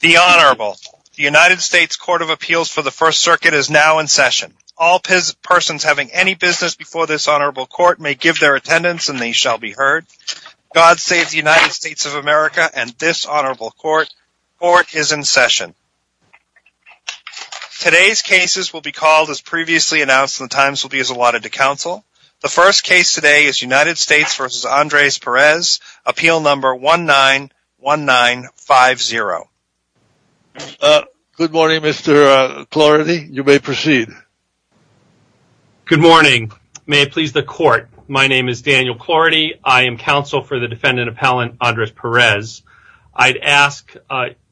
The Honorable. The United States Court of Appeals for the First Circuit is now in session. All persons having any business before this Honorable Court may give their attendance and they shall be heard. God save the United States of America and this Honorable Court. Court is in session. Today's cases will be called as previously announced and the times will be as allotted to Good morning Mr. Clarity. You may proceed. Good morning. May it please the Court. My name is Daniel Clarity. I am counsel for the defendant appellant Andres Perez. I'd ask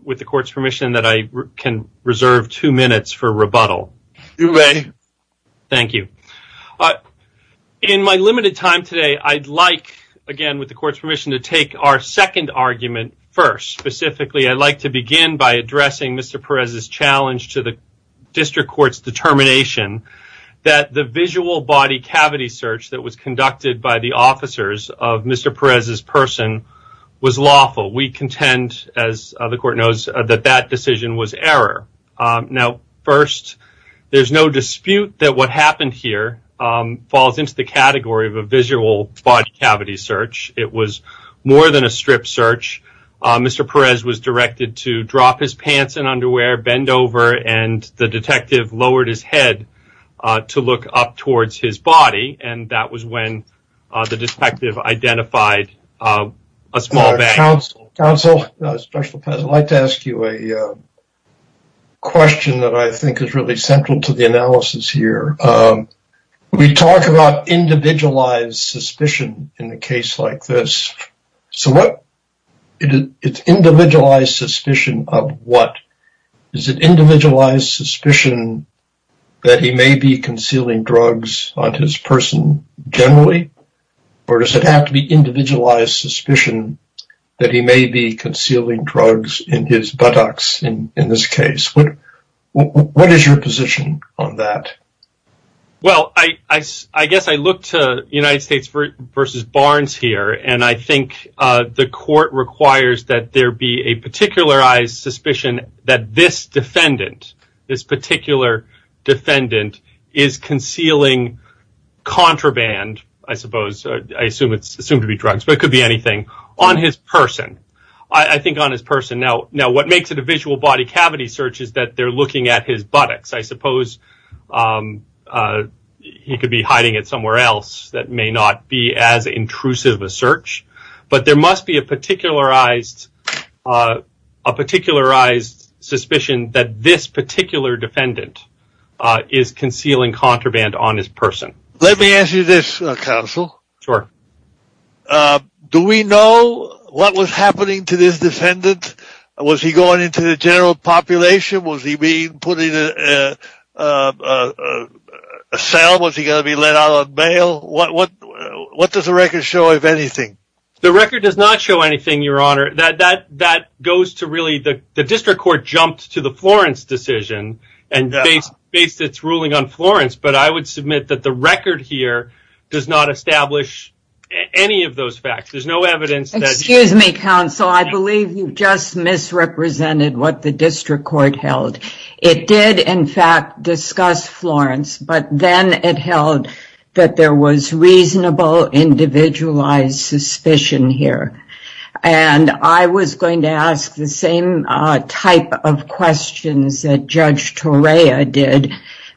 with the Court's permission that I can reserve two minutes for rebuttal. You may. Thank you. In my limited time today I'd like again with the Court's permission to take our second argument first. Specifically I'd like to begin by addressing Mr. Perez's challenge to the District Court's determination that the visual body cavity search that was conducted by the officers of Mr. Perez's person was lawful. We contend as the Court knows that that decision was error. Now first there's no dispute that what happened here falls into the category of a visual body cavity search. It was more than a strip search. Mr. Perez was directed to drop his pants and underwear, bend over, and the detective lowered his head to look up towards his body and that was when the detective identified a small bag. Counsel, counsel, special appellant, I'd like to ask you a question that I think is really central to the analysis here. We talk about individualized suspicion in a case like this. So what is individualized suspicion of what? Is it individualized suspicion that he may be concealing drugs on his person generally? Or does it have to be individualized suspicion that he may be concealing drugs in his buttocks in this case? What is your position on that? Well, I guess I look to United States versus Barnes here and I think the Court requires that there be a particularized suspicion that this defendant, this particular defendant, is concealing contraband, I suppose, I assume it's assumed to be drugs but it could be anything, on his person. I think on his person. Now what makes it a visual body cavity search is that they're looking at his buttocks. I suppose he could be hiding it somewhere else that may not be as intrusive a search but there must be a particularized suspicion that this particular defendant is concealing contraband on his person. Let me ask you this, counsel. Sure. Do we know what was happening to this defendant? Was he going into the general population? Was he being put in a cell? Was he going to be let out on bail? What does the record show, if anything? The record does not show anything, your honor. That goes to really, the district court jumped to the Florence decision and based its ruling on Florence but I would submit that the record here does not establish any of those facts. Excuse me, counsel. I believe you just misrepresented what the district court held. It did, in fact, discuss Florence but then it held that there was reasonable individualized suspicion here and I was going to ask the same type of questions that Judge Torea did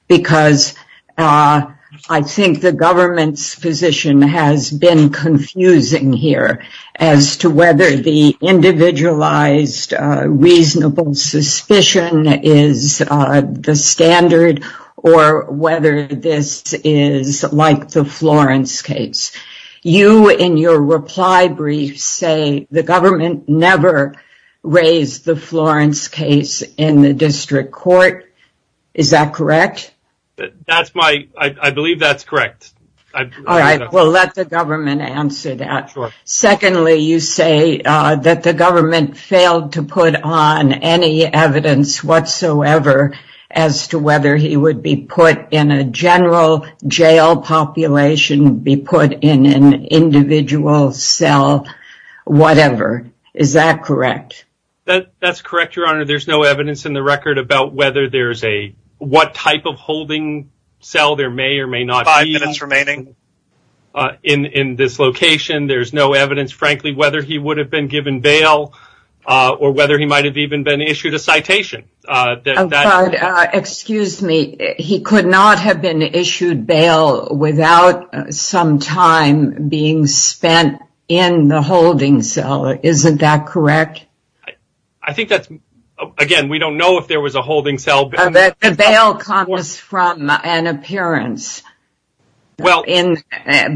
because I think the government's position has been confusing here as to whether the individualized reasonable suspicion is the standard or whether this is like the Florence case. You, in your reply brief, say the government never raised the Florence case in the district court. Is that correct? That's my, I believe that's correct. All right, we'll let the government answer that. Secondly, you say that the government failed to put on any evidence whatsoever as to whether he would be put in a general jail population, be put in an individual cell, whatever. Is that correct? That's correct, your honor. There's no evidence in the record about whether there's a, what type of holding cell there may or may not be in this location. There's no evidence, frankly, whether he would have been given bail or whether he might have even been issued a citation. Excuse me, he could not have been issued bail without some time being spent in the holding cell. Isn't that correct? I think that's, again, we don't know if there was a holding cell. The bail comes from an appearance. Well,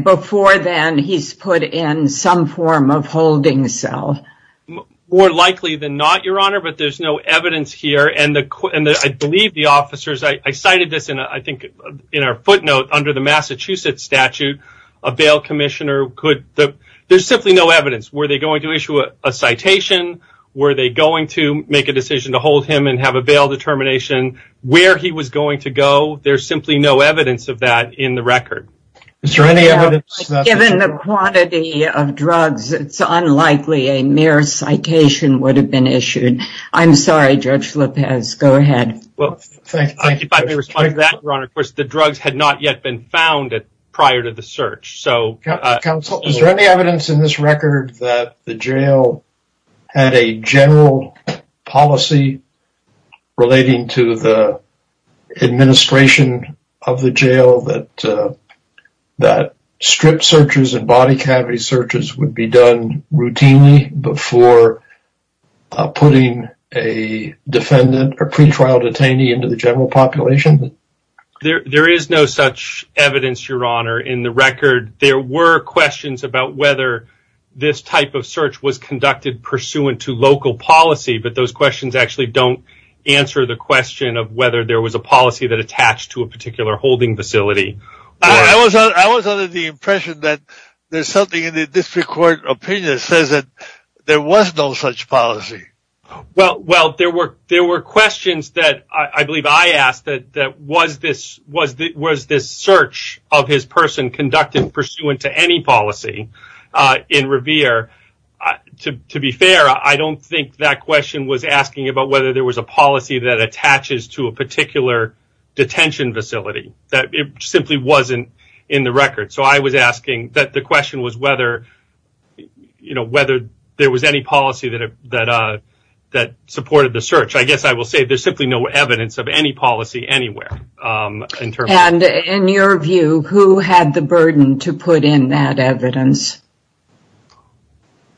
before then, he's put in some form of holding cell. More likely than not, your honor, but there's no evidence here, and I believe the officers, I cited this in, I think, in our footnote under the Massachusetts statute, a bail commissioner could, there's simply no evidence. Were they going to issue a citation? Were they going to make a decision to hold him and have a bail determination? Where he was going to go, there's simply no evidence of that in the record. Is there any evidence? Given the quantity of drugs, it's unlikely a mere citation would have been issued. I'm sorry, Judge Lopez, go ahead. Well, if I may respond to that, your honor, of course, the drugs had not yet been found prior to the search. Counsel, is there any evidence in this record that the jail had a general policy relating to the administration of the jail that strip searches and body cavity searches would be done routinely before putting a defendant, a pretrial detainee, into the general population? There is no such evidence, your honor, in the record. There were questions about whether this type of search was conducted pursuant to local policy, but those questions actually don't answer the question of whether there was a policy that attached to a particular holding facility. I was under the impression that there's something in this court opinion that says that there was no such policy. Well, there were questions that I believe I asked that was this search of his person conducted pursuant to any policy in Revere. To be fair, I don't think that question was asking about whether there was a policy that attaches to a particular detention facility. It simply wasn't in the record, so I was asking that the question was whether there was any policy that supported the search. I guess I will say there's simply no evidence of any policy anywhere. In your view, who had the burden to put in that evidence?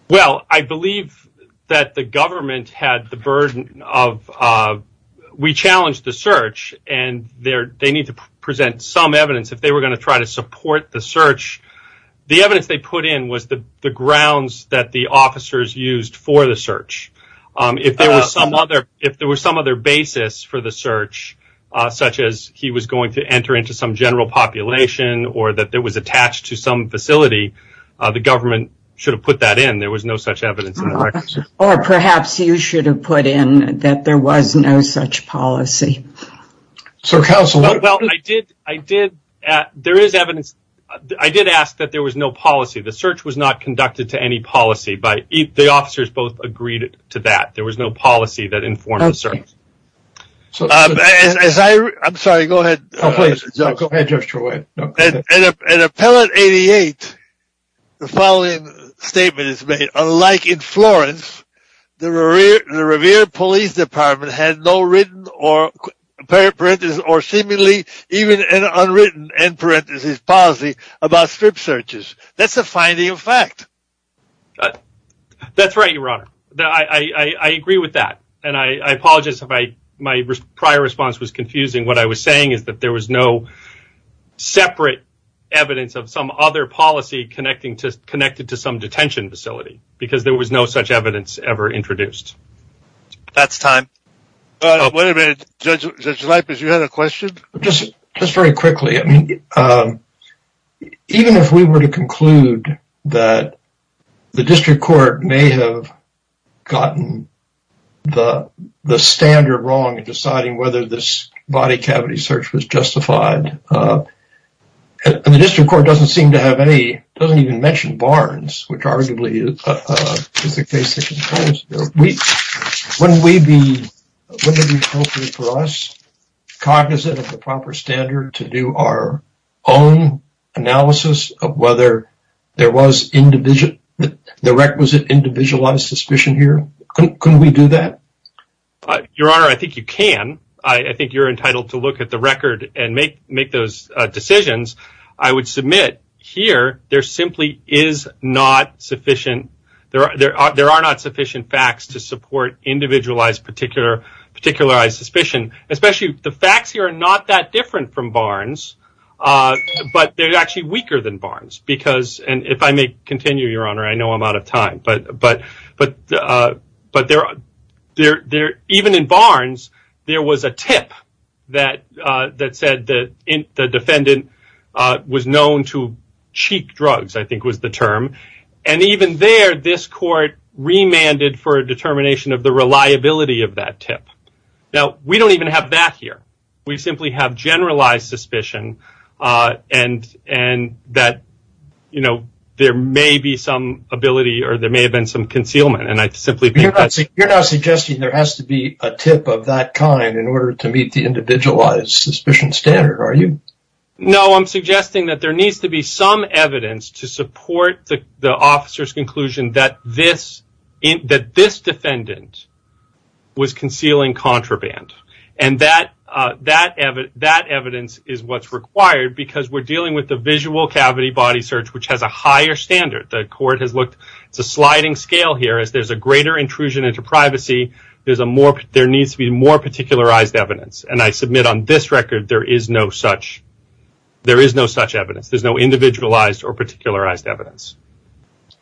Well, I believe that the government had the burden of we challenged the search, and they need to present some evidence if they were going to support the search. The evidence they put in was the grounds that the officers used for the search. If there was some other basis for the search, such as he was going to enter into some general population, or that it was attached to some facility, the government should have put that in. There was no such evidence in the record. Or perhaps you should have put in that there was no policy. Well, there is evidence. I did ask that there was no policy. The search was not conducted to any policy. The officers both agreed to that. There was no policy that informed the search. I'm sorry, go ahead. An appellate 88, the following statement is made. Unlike in Florence, the Revere Police Department had no written or seemingly even unwritten end parenthesis policy about strip searches. That's a finding of fact. That's right, your honor. I agree with that, and I apologize if my prior response was confusing. What I was saying is that there was no separate evidence of some other policy connected to some detention facility, because there was no such evidence ever introduced. That's time. Wait a minute, Judge Leipitz, you had a question? Just very quickly, I mean, even if we were to conclude that the district court may have gotten the standard wrong in deciding whether this body cavity search was justified, and the district court doesn't seem to have any, doesn't even mention Barnes, which arguably is the case, wouldn't it be appropriate for us, cognizant of the proper standard, to do our own analysis of whether there was the requisite individualized suspicion here? Couldn't we do that? Your honor, I think you can. I think you're entitled to look at the record and make those decisions. I would submit here there simply is not sufficient, there are not sufficient facts to support individualized, particularized suspicion, especially the facts here are not that different from Barnes, but they're actually weaker than Barnes, because, and if I may continue, your honor, I know I'm out of time, but there, even in Barnes, there was a tip that said the defendant was known to cheat drugs, I think was the term, and even there, this court remanded for a determination of the reliability of that tip. Now, we don't even have that here. We simply have generalized suspicion, and that, you know, there may be some ability, or there may have been some concealment, and I simply think that's... You're not suggesting there has to be a tip of that kind in order to meet the individualized suspicion standard, are you? No, I'm suggesting that there needs to be some evidence to support the officer's conclusion that this defendant was concealing contraband, and that evidence is what's required, because we're dealing with the visual cavity body search, which has a higher standard. The court has looked, it's a sliding scale here, as there's a greater intrusion into privacy, there needs to be more particularized evidence, and I submit on this record, there is no such evidence. There's no individualized or particularized evidence.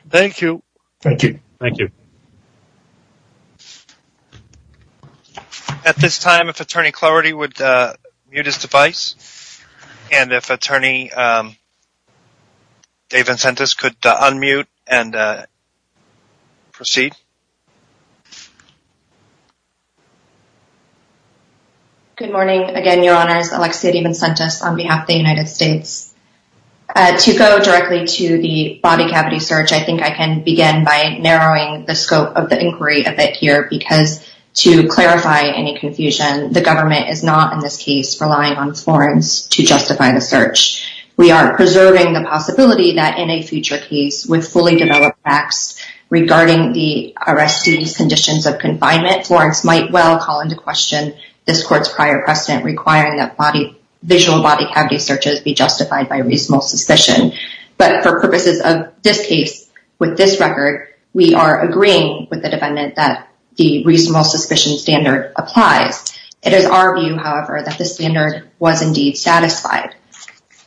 Thank you. Thank you. At this time, if Attorney Clarity would mute his device, and if Attorney Dave Vincentis could unmute and proceed. Good morning again, Your Honors. Alexia Dave Vincentis on behalf of the United States. To go directly to the body cavity search, I think I can begin by narrowing the scope of the inquiry a bit here, because to clarify any confusion, the government is not, in this case, relying on Florence to justify the search. We are preserving the possibility that in a future case, with fully developed facts regarding the arrestee's conditions of confinement, Florence might well call into question this court's prior precedent requiring that visual body cavity searches be justified by reasonable suspicion. But for purposes of this case, with this record, we are agreeing with the defendant that the reasonable suspicion standard applies. It is our view, however, that the standard was indeed satisfied.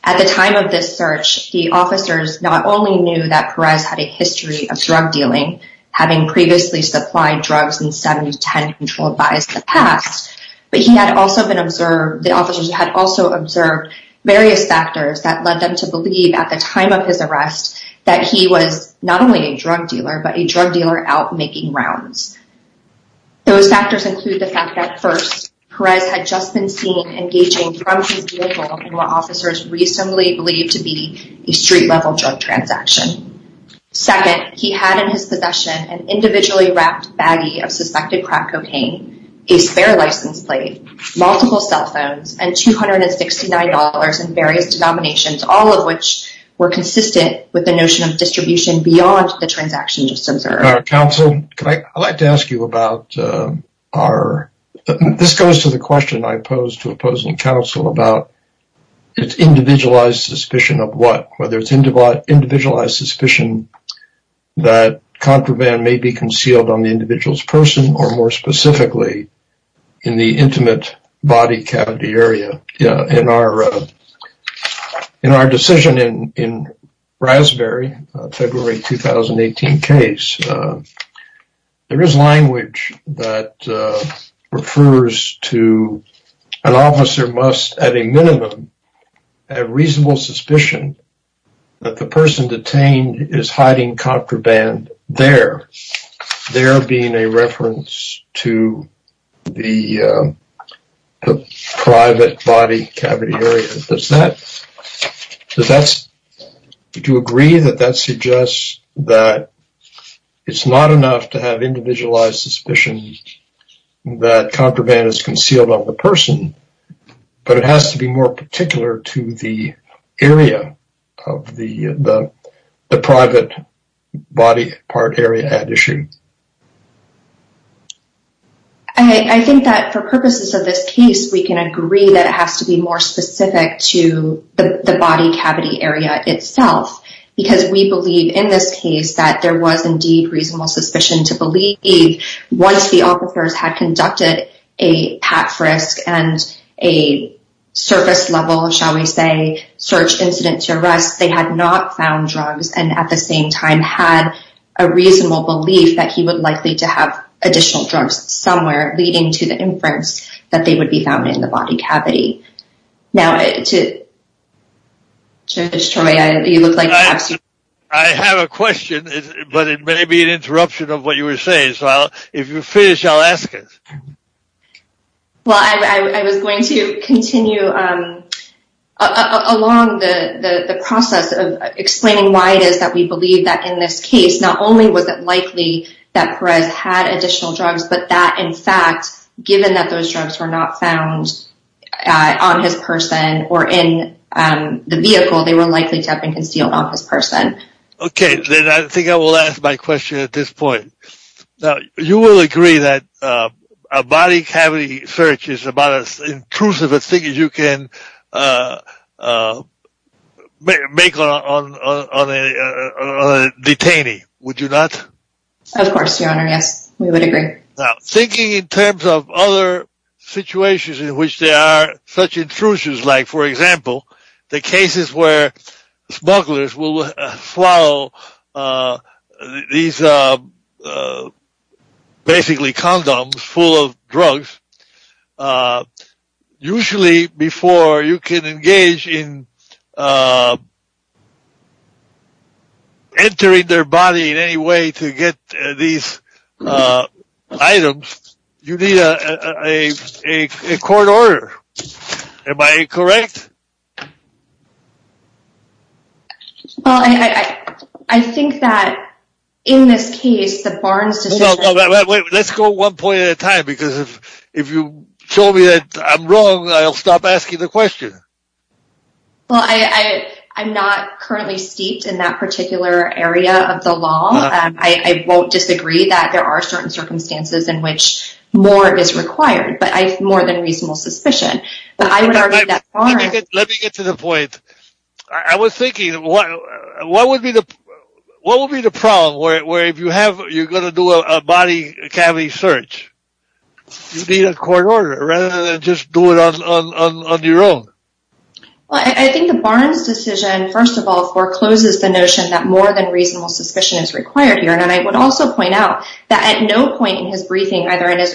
At the time of this search, the officers not only knew that Perez had a past, but the officers had also observed various factors that led them to believe, at the time of his arrest, that he was not only a drug dealer, but a drug dealer out making rounds. Those factors include the fact that, first, Perez had just been seen engaging from his vehicle in what officers recently believed to be a street-level drug transaction. Second, he had in his possession an individually wrapped baggie of suspected crack cocaine, a spare license plate, multiple cell phones, and $269 in various denominations, all of which were consistent with the notion of distribution beyond the transaction just observed. Counsel, I'd like to ask you about our... This goes to the question I posed to opposing counsel about its individualized suspicion of whether it's individualized suspicion that contraband may be concealed on the individual's person or, more specifically, in the intimate body cavity area. In our decision in Raspberry, February 2018 case, there is language that refers to an officer must, at a minimum, have reasonable suspicion that the person detained is hiding contraband there, there being a reference to the private body cavity area. Does that... Do you agree that that suggests that it's not enough to have individualized suspicion that contraband is concealed on the person, but it has to be more particular to the area of the private body part area at issue? I think that, for purposes of this case, we can agree that it has to be more specific to the body cavity area itself because we believe, in this case, that there was, indeed, reasonable suspicion to believe once the officers had conducted a pat-frisk and a surface-level, shall we say, search incident to arrest, they had not found drugs and, at the same time, had a reasonable belief that he would likely to have additional drugs somewhere leading to the inference that they would be found in the body cavity. Now, Judge Troy, you look like... I have a question, but it may be an interruption of what you were saying, so if you're finished, I'll ask it. Well, I was going to continue along the process of explaining why it is that we believe that, in this case, not only was it likely that Perez had additional drugs, but that, in fact, given that those drugs were not found on his person or in the vehicle, they were likely to have been concealed off his person. Okay, then I think I will ask my question at this point. Now, you will agree that a body cavity search is about as intrusive a thing as you can make on a detainee, would you not? Of course, Your Honor, yes, we would agree. Now, thinking in terms of other situations in which there are such intrusions, like, for example, the cases where smugglers will swallow these, basically, condoms full of drugs, usually before you can engage in entering their body in any way to get these items, you need a court order. Am I correct? Well, I think that, in this case, the Barnes decision... Let's go one point at a time, because if you show me that I'm wrong, I'll stop asking the question. Well, I'm not currently steeped in that particular area of the law. I won't disagree that there are certain circumstances in which more is required, but I have more than reasonable suspicion. Let me get to the point. I was thinking, what would be the problem where, if you're going to do a body cavity search, you need a court order rather than just do it on your own? Well, I think the Barnes decision, first of all, forecloses the notion that more than reasonable suspicion is required, Your Honor, and I would also point out that at no point in his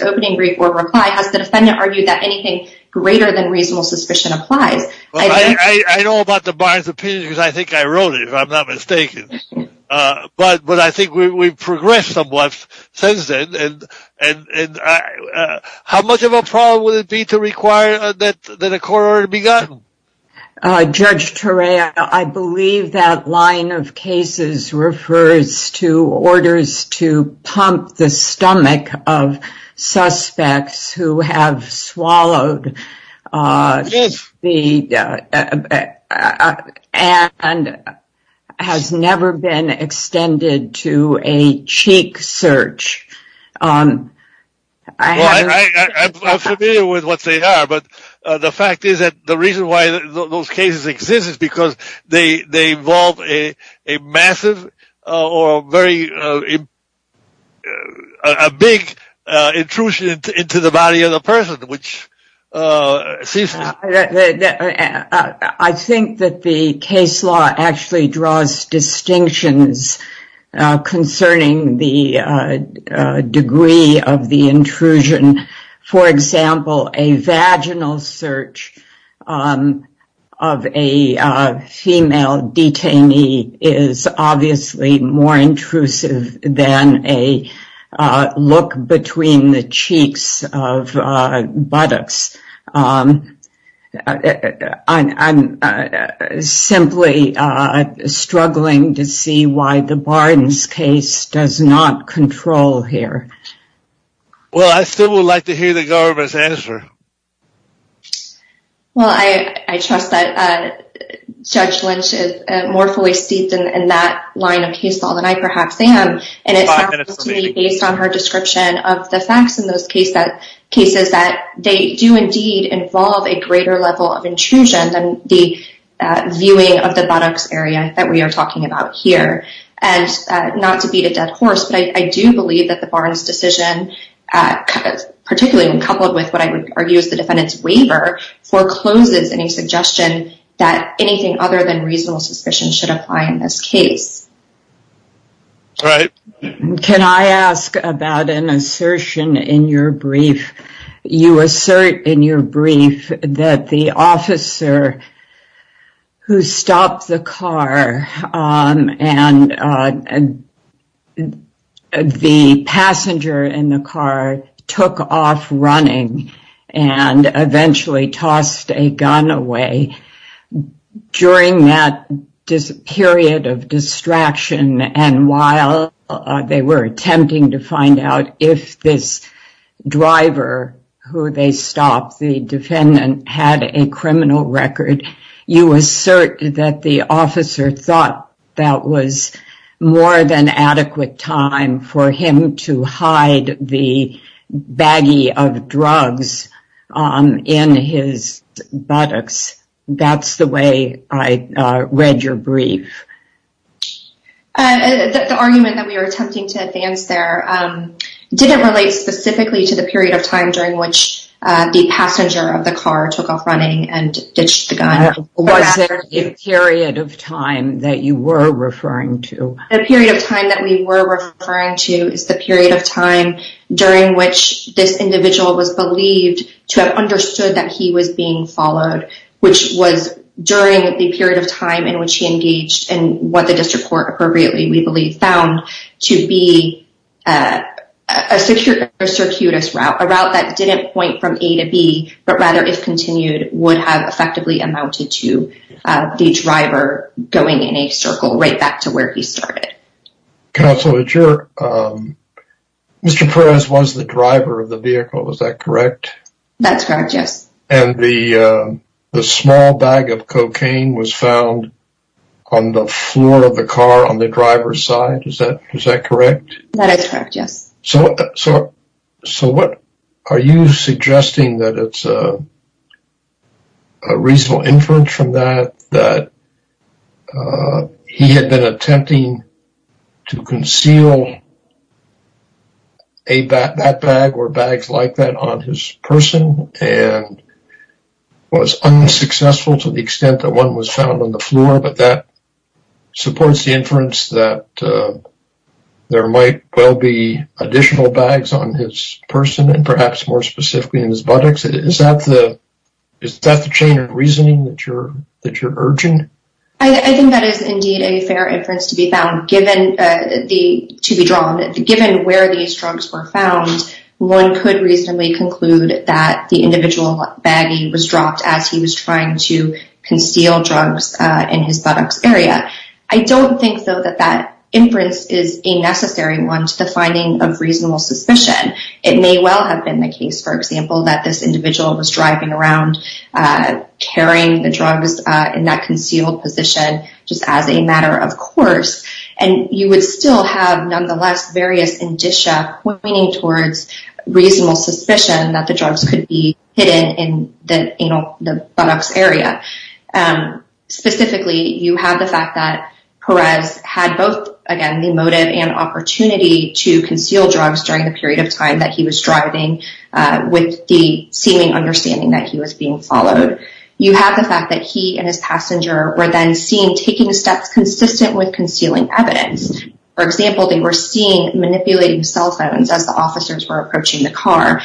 opening brief or reply has the defendant argued that anything greater than reasonable suspicion applies. Well, I know about the Barnes opinion because I think I wrote it, if I'm not mistaken, but I think we've progressed somewhat since then, and how much of a problem would it be to require that a court order be gotten? Judge Turek, I believe that line of cases refers to orders to pump the stomach of suspects who have swallowed and has never been extended to a cheek search. Well, I'm familiar with what they are, but the fact is that the reason why those cases exist is because they involve a massive or a very big intrusion into the body of the person. I think that the case law actually draws distinctions concerning the degree of the intrusion. For example, a vaginal search of a female detainee is obviously more intrusive than a look between the cheeks of buttocks. I'm simply struggling to see why the Barnes case does not control here. Well, I still would like to hear the governor's answer. Well, I trust that Judge Lynch is more fully steeped in that line of case law than I perhaps am. It sounds to me, based on her description of the facts in those cases, that they do indeed involve a greater level of intrusion than the viewing of the buttocks area that we are talking about here. Not to beat a dead horse, but I do believe that the Barnes decision, particularly when coupled with what I would argue is the defendant's waiver, forecloses any suggestion that anything other than reasonable suspicion should apply in this case. Can I ask about an assertion in your brief? You assert in your brief that the officer who stopped the car and the passenger in the car took off running and eventually tossed a gun away during that period of distraction and while they were attempting to find out if this driver who they stopped, the defendant, had a criminal record. You assert that the officer thought that was more than adequate time for him to hide the baggie of drugs in his buttocks. That's the way I read your brief. The argument that we were attempting to advance there didn't relate specifically to the period of time during which the passenger of the car took off running and The period of time that we were referring to is the period of time during which this individual was believed to have understood that he was being followed, which was during the period of time in which he engaged in what the district court appropriately, we believe, found to be a circuitous route, a route that didn't point from A to B, but rather, if continued, would have effectively amounted to the driver going in a circle right back to where he started. Counsel, Mr. Perez was the driver of the vehicle, is that correct? That's correct, yes. And the small bag of cocaine was found on the floor of the car on the driver's side, is that correct? That is correct, yes. So what are you suggesting that it's a reasonable inference from that that he had been attempting to conceal that bag or bags like that on his person and was unsuccessful to the extent that one was found on the floor, but that supports the inference that there might well be additional bags on his person and perhaps more specifically in his buttocks. Is that the chain of reasoning that you're urging? I think that is indeed a fair inference to be drawn. Given where these drugs were found, one could reasonably conclude that the individual baggie was dropped as he was trying to conceal drugs in his buttocks area. I don't think, though, that that inference is a necessary one to the finding of reasonable suspicion. It may well have been the case, for example, that this individual was driving around carrying the drugs in that concealed position just as a matter of course, and you would still have nonetheless various indicia pointing towards reasonable suspicion that the drugs could be hidden in the buttocks area. Specifically, you have the fact that Perez had both again the motive and opportunity to conceal drugs during the period of time that he was driving with the seeming understanding that he was being followed. You have the fact that he and his passenger were then seen taking steps consistent with concealing evidence. For example, they were seen manipulating cell phones as the officers were approaching the a firearm.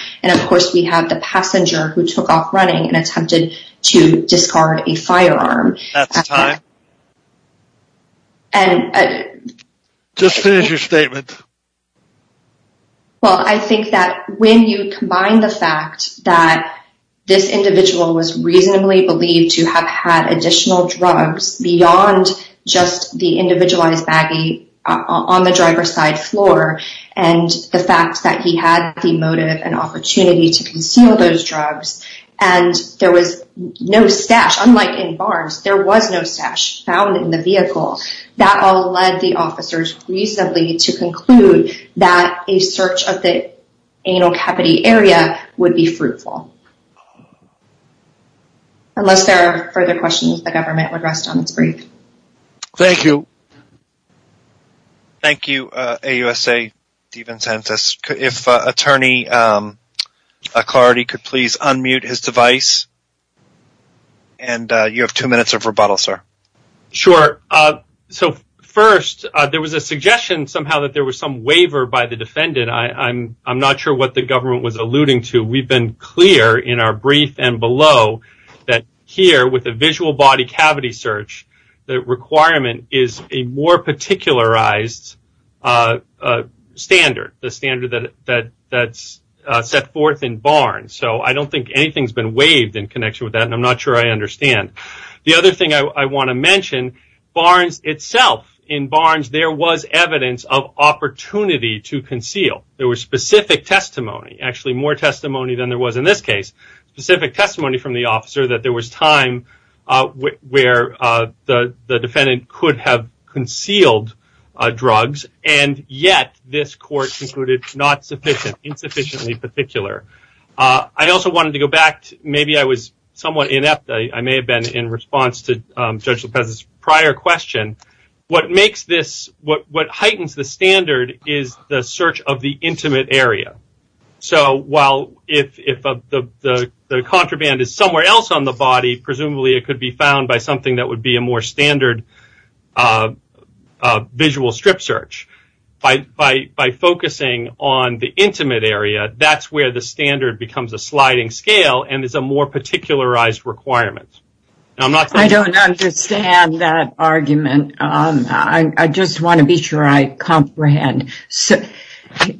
Well, I think that when you combine the fact that this individual was reasonably believed to have had additional drugs beyond just the individualized baggie on the driver's side floor, and the fact that he had the motive and opportunity to conceal those drugs, and there was no stash. Unlike in Barnes, there was no stash found in the vehicle. That all led the officers reasonably to conclude that a search of the anal capity area would be fruitful. Unless there are further questions, the government would rest on its brief. Thank you. Thank you, AUSA. If attorney Clarity could please unmute his device. You have two minutes of rebuttal, sir. Sure. First, there was a suggestion somehow that there was some waiver by the defendant. I'm not sure what the government was alluding to. We've been clear in our brief and below that here with a visual body cavity search, the standard that's set forth in Barnes. So I don't think anything's been waived in connection with that, and I'm not sure I understand. The other thing I want to mention, Barnes itself, in Barnes, there was evidence of opportunity to conceal. There was specific testimony, actually more testimony than there was in this case, specific testimony from the officer that there was time where the defendant could have concealed drugs, and yet this court concluded not sufficient, insufficiently particular. I also wanted to go back. Maybe I was somewhat inept. I may have been in response to Judge Lopez's prior question. What makes this, what heightens the standard is the search of the intimate area. So while if the contraband is somewhere else on the body, presumably it could be found by something that would be a more standard visual strip search, by focusing on the intimate area, that's where the standard becomes a sliding scale and is a more particularized requirement. I don't understand that argument. I just want to be sure I comprehend.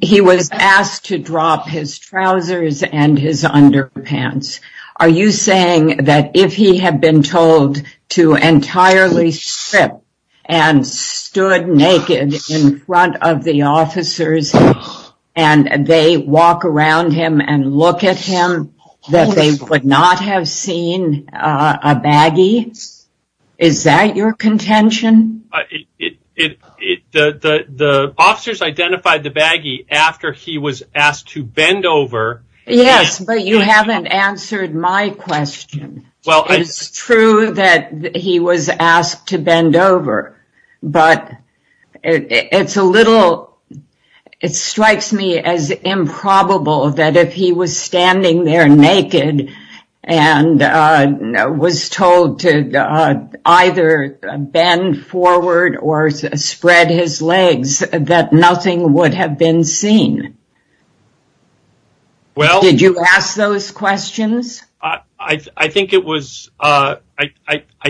He was asked to drop his trousers and his underpants. Are you saying that if he had been told to entirely strip and stood naked in front of the officers, and they walk around him and look at him, that they would not have seen a baggie? Is that your contention? The officers identified the baggie after he was asked to bend over. Yes, but you haven't answered my question. It's true that he was asked to bend over, but it's a little, it strikes me as improbable that if he was standing there naked and was told to either bend forward or spread his legs, that nothing would have been seen. Did you ask those questions? I think it was, I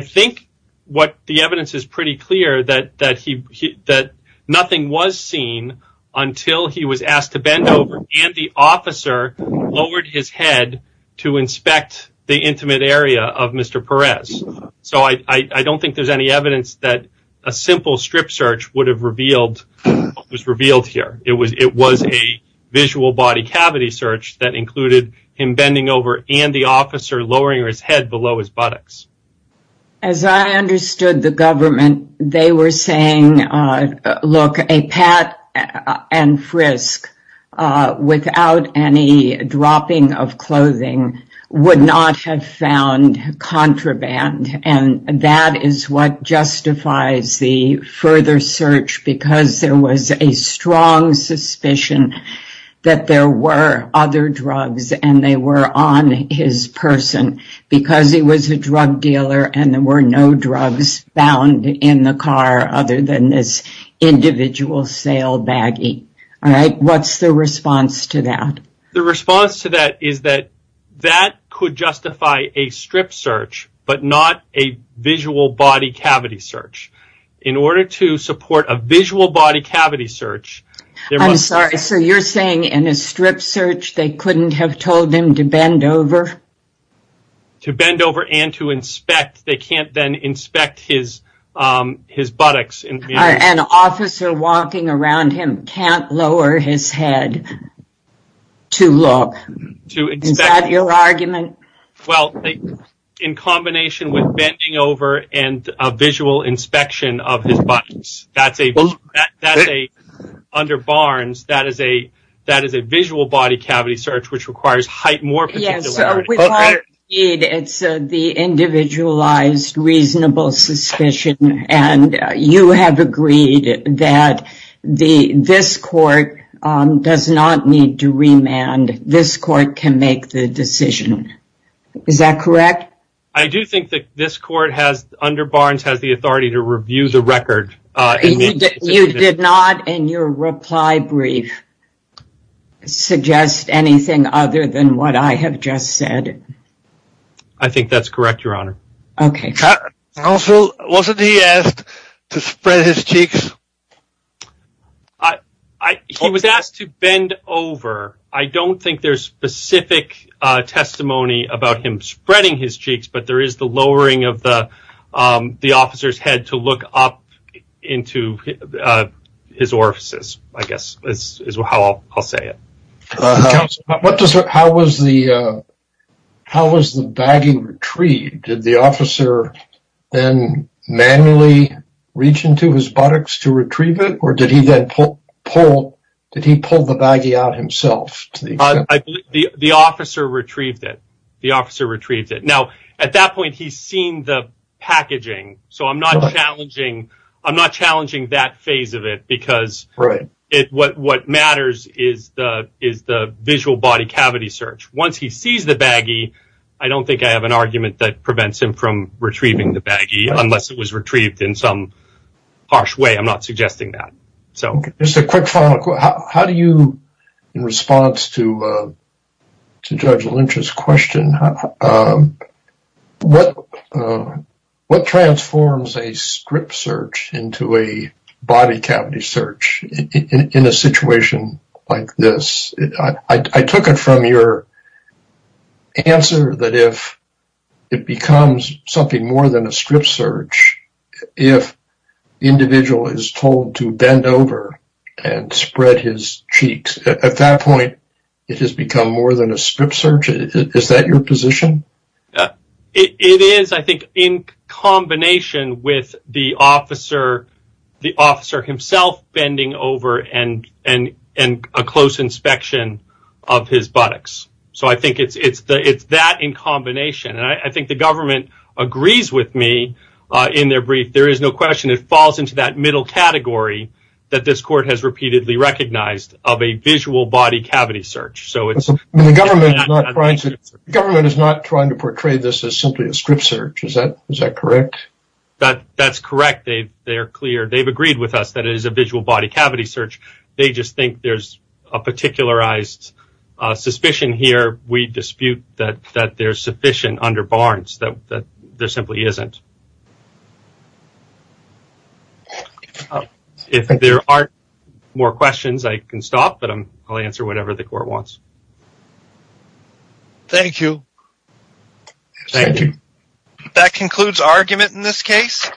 think what the evidence is pretty clear that nothing was seen until he was asked to bend over and the officer lowered his head to inspect the intimate area of Mr. Perez, so I don't think there's any evidence that a simple strip search would have revealed what was revealed here. It was a visual body cavity search that included him bending over and the officer lowering his head below his buttocks. As I understood the government, they were saying, look, a pat and frisk without any dropping of clothing would not have found contraband, and that is what justifies the further search, because there was a strong suspicion that there were other drugs and they were on his person, because he was a drug dealer and there were no drugs found in the car other than this individual sale baggie. What's the response to that? The response to that is that that could justify a strip search, but not a visual body cavity search. In order to support a visual body cavity search. I'm sorry, so you're saying in a strip search they couldn't have told him to bend over? To bend over and to inspect. They can't then inspect his buttocks. An officer walking around him can't lower his head to look. To inspect. Is that your argument? Well, in combination with bending over and a visual inspection of his buttocks. Under Barnes, that is a visual body cavity search, which requires height more. It's the individualized reasonable suspicion, and you have agreed that this court does not need to remand. This court can make the decision. Is that correct? I do think that this court has under Barnes has the authority to review the record. You did not in your reply brief. Suggest anything other than what I have just said. I think that's correct, Your Honor. OK. Also, wasn't he asked to spread his cheeks? He was asked to bend over. I don't think there's specific testimony about him spreading his cheeks, but there is the lowering of the officer's head to look up into his orifices, I guess, is how I'll say it. How was the baggie retrieved? Did the officer then manually reach into his buttocks to retrieve it? Did he then pull the baggie out himself? The officer retrieved it. At that point, he's seen the packaging, so I'm not challenging that phase of it because what matters is the visual body cavity search. Once he sees the baggie, I don't think I have an argument that prevents him from retrieving the baggie unless it was retrieved in some harsh way. I'm not suggesting that. OK. Just a quick follow-up. How do you, in response to Judge Lynch's question, what transforms a script search into a body cavity search in a situation like this? I took it from your answer that if it becomes something more than a script search, if the individual is told to bend over and spread his cheeks, at that point, it has become more than a script search. Is that your position? It is, I think, in combination with the officer himself bending over and a close inspection of his buttocks. I think it's that in combination. I think the government agrees with me in their brief. There is no question it falls into that middle category that this court has repeatedly recognized of a visual body cavity search. The government is not trying to portray this as simply a script search. Is that correct? That's correct. They are clear. They've agreed with us that it is a visual body cavity search. They just think there's a particularized suspicion here. We dispute that there's sufficient under Barnes, that there simply isn't. If there aren't more questions, I can stop, but I'll answer whatever the court wants. Thank you. Thank you. That concludes argument in this case.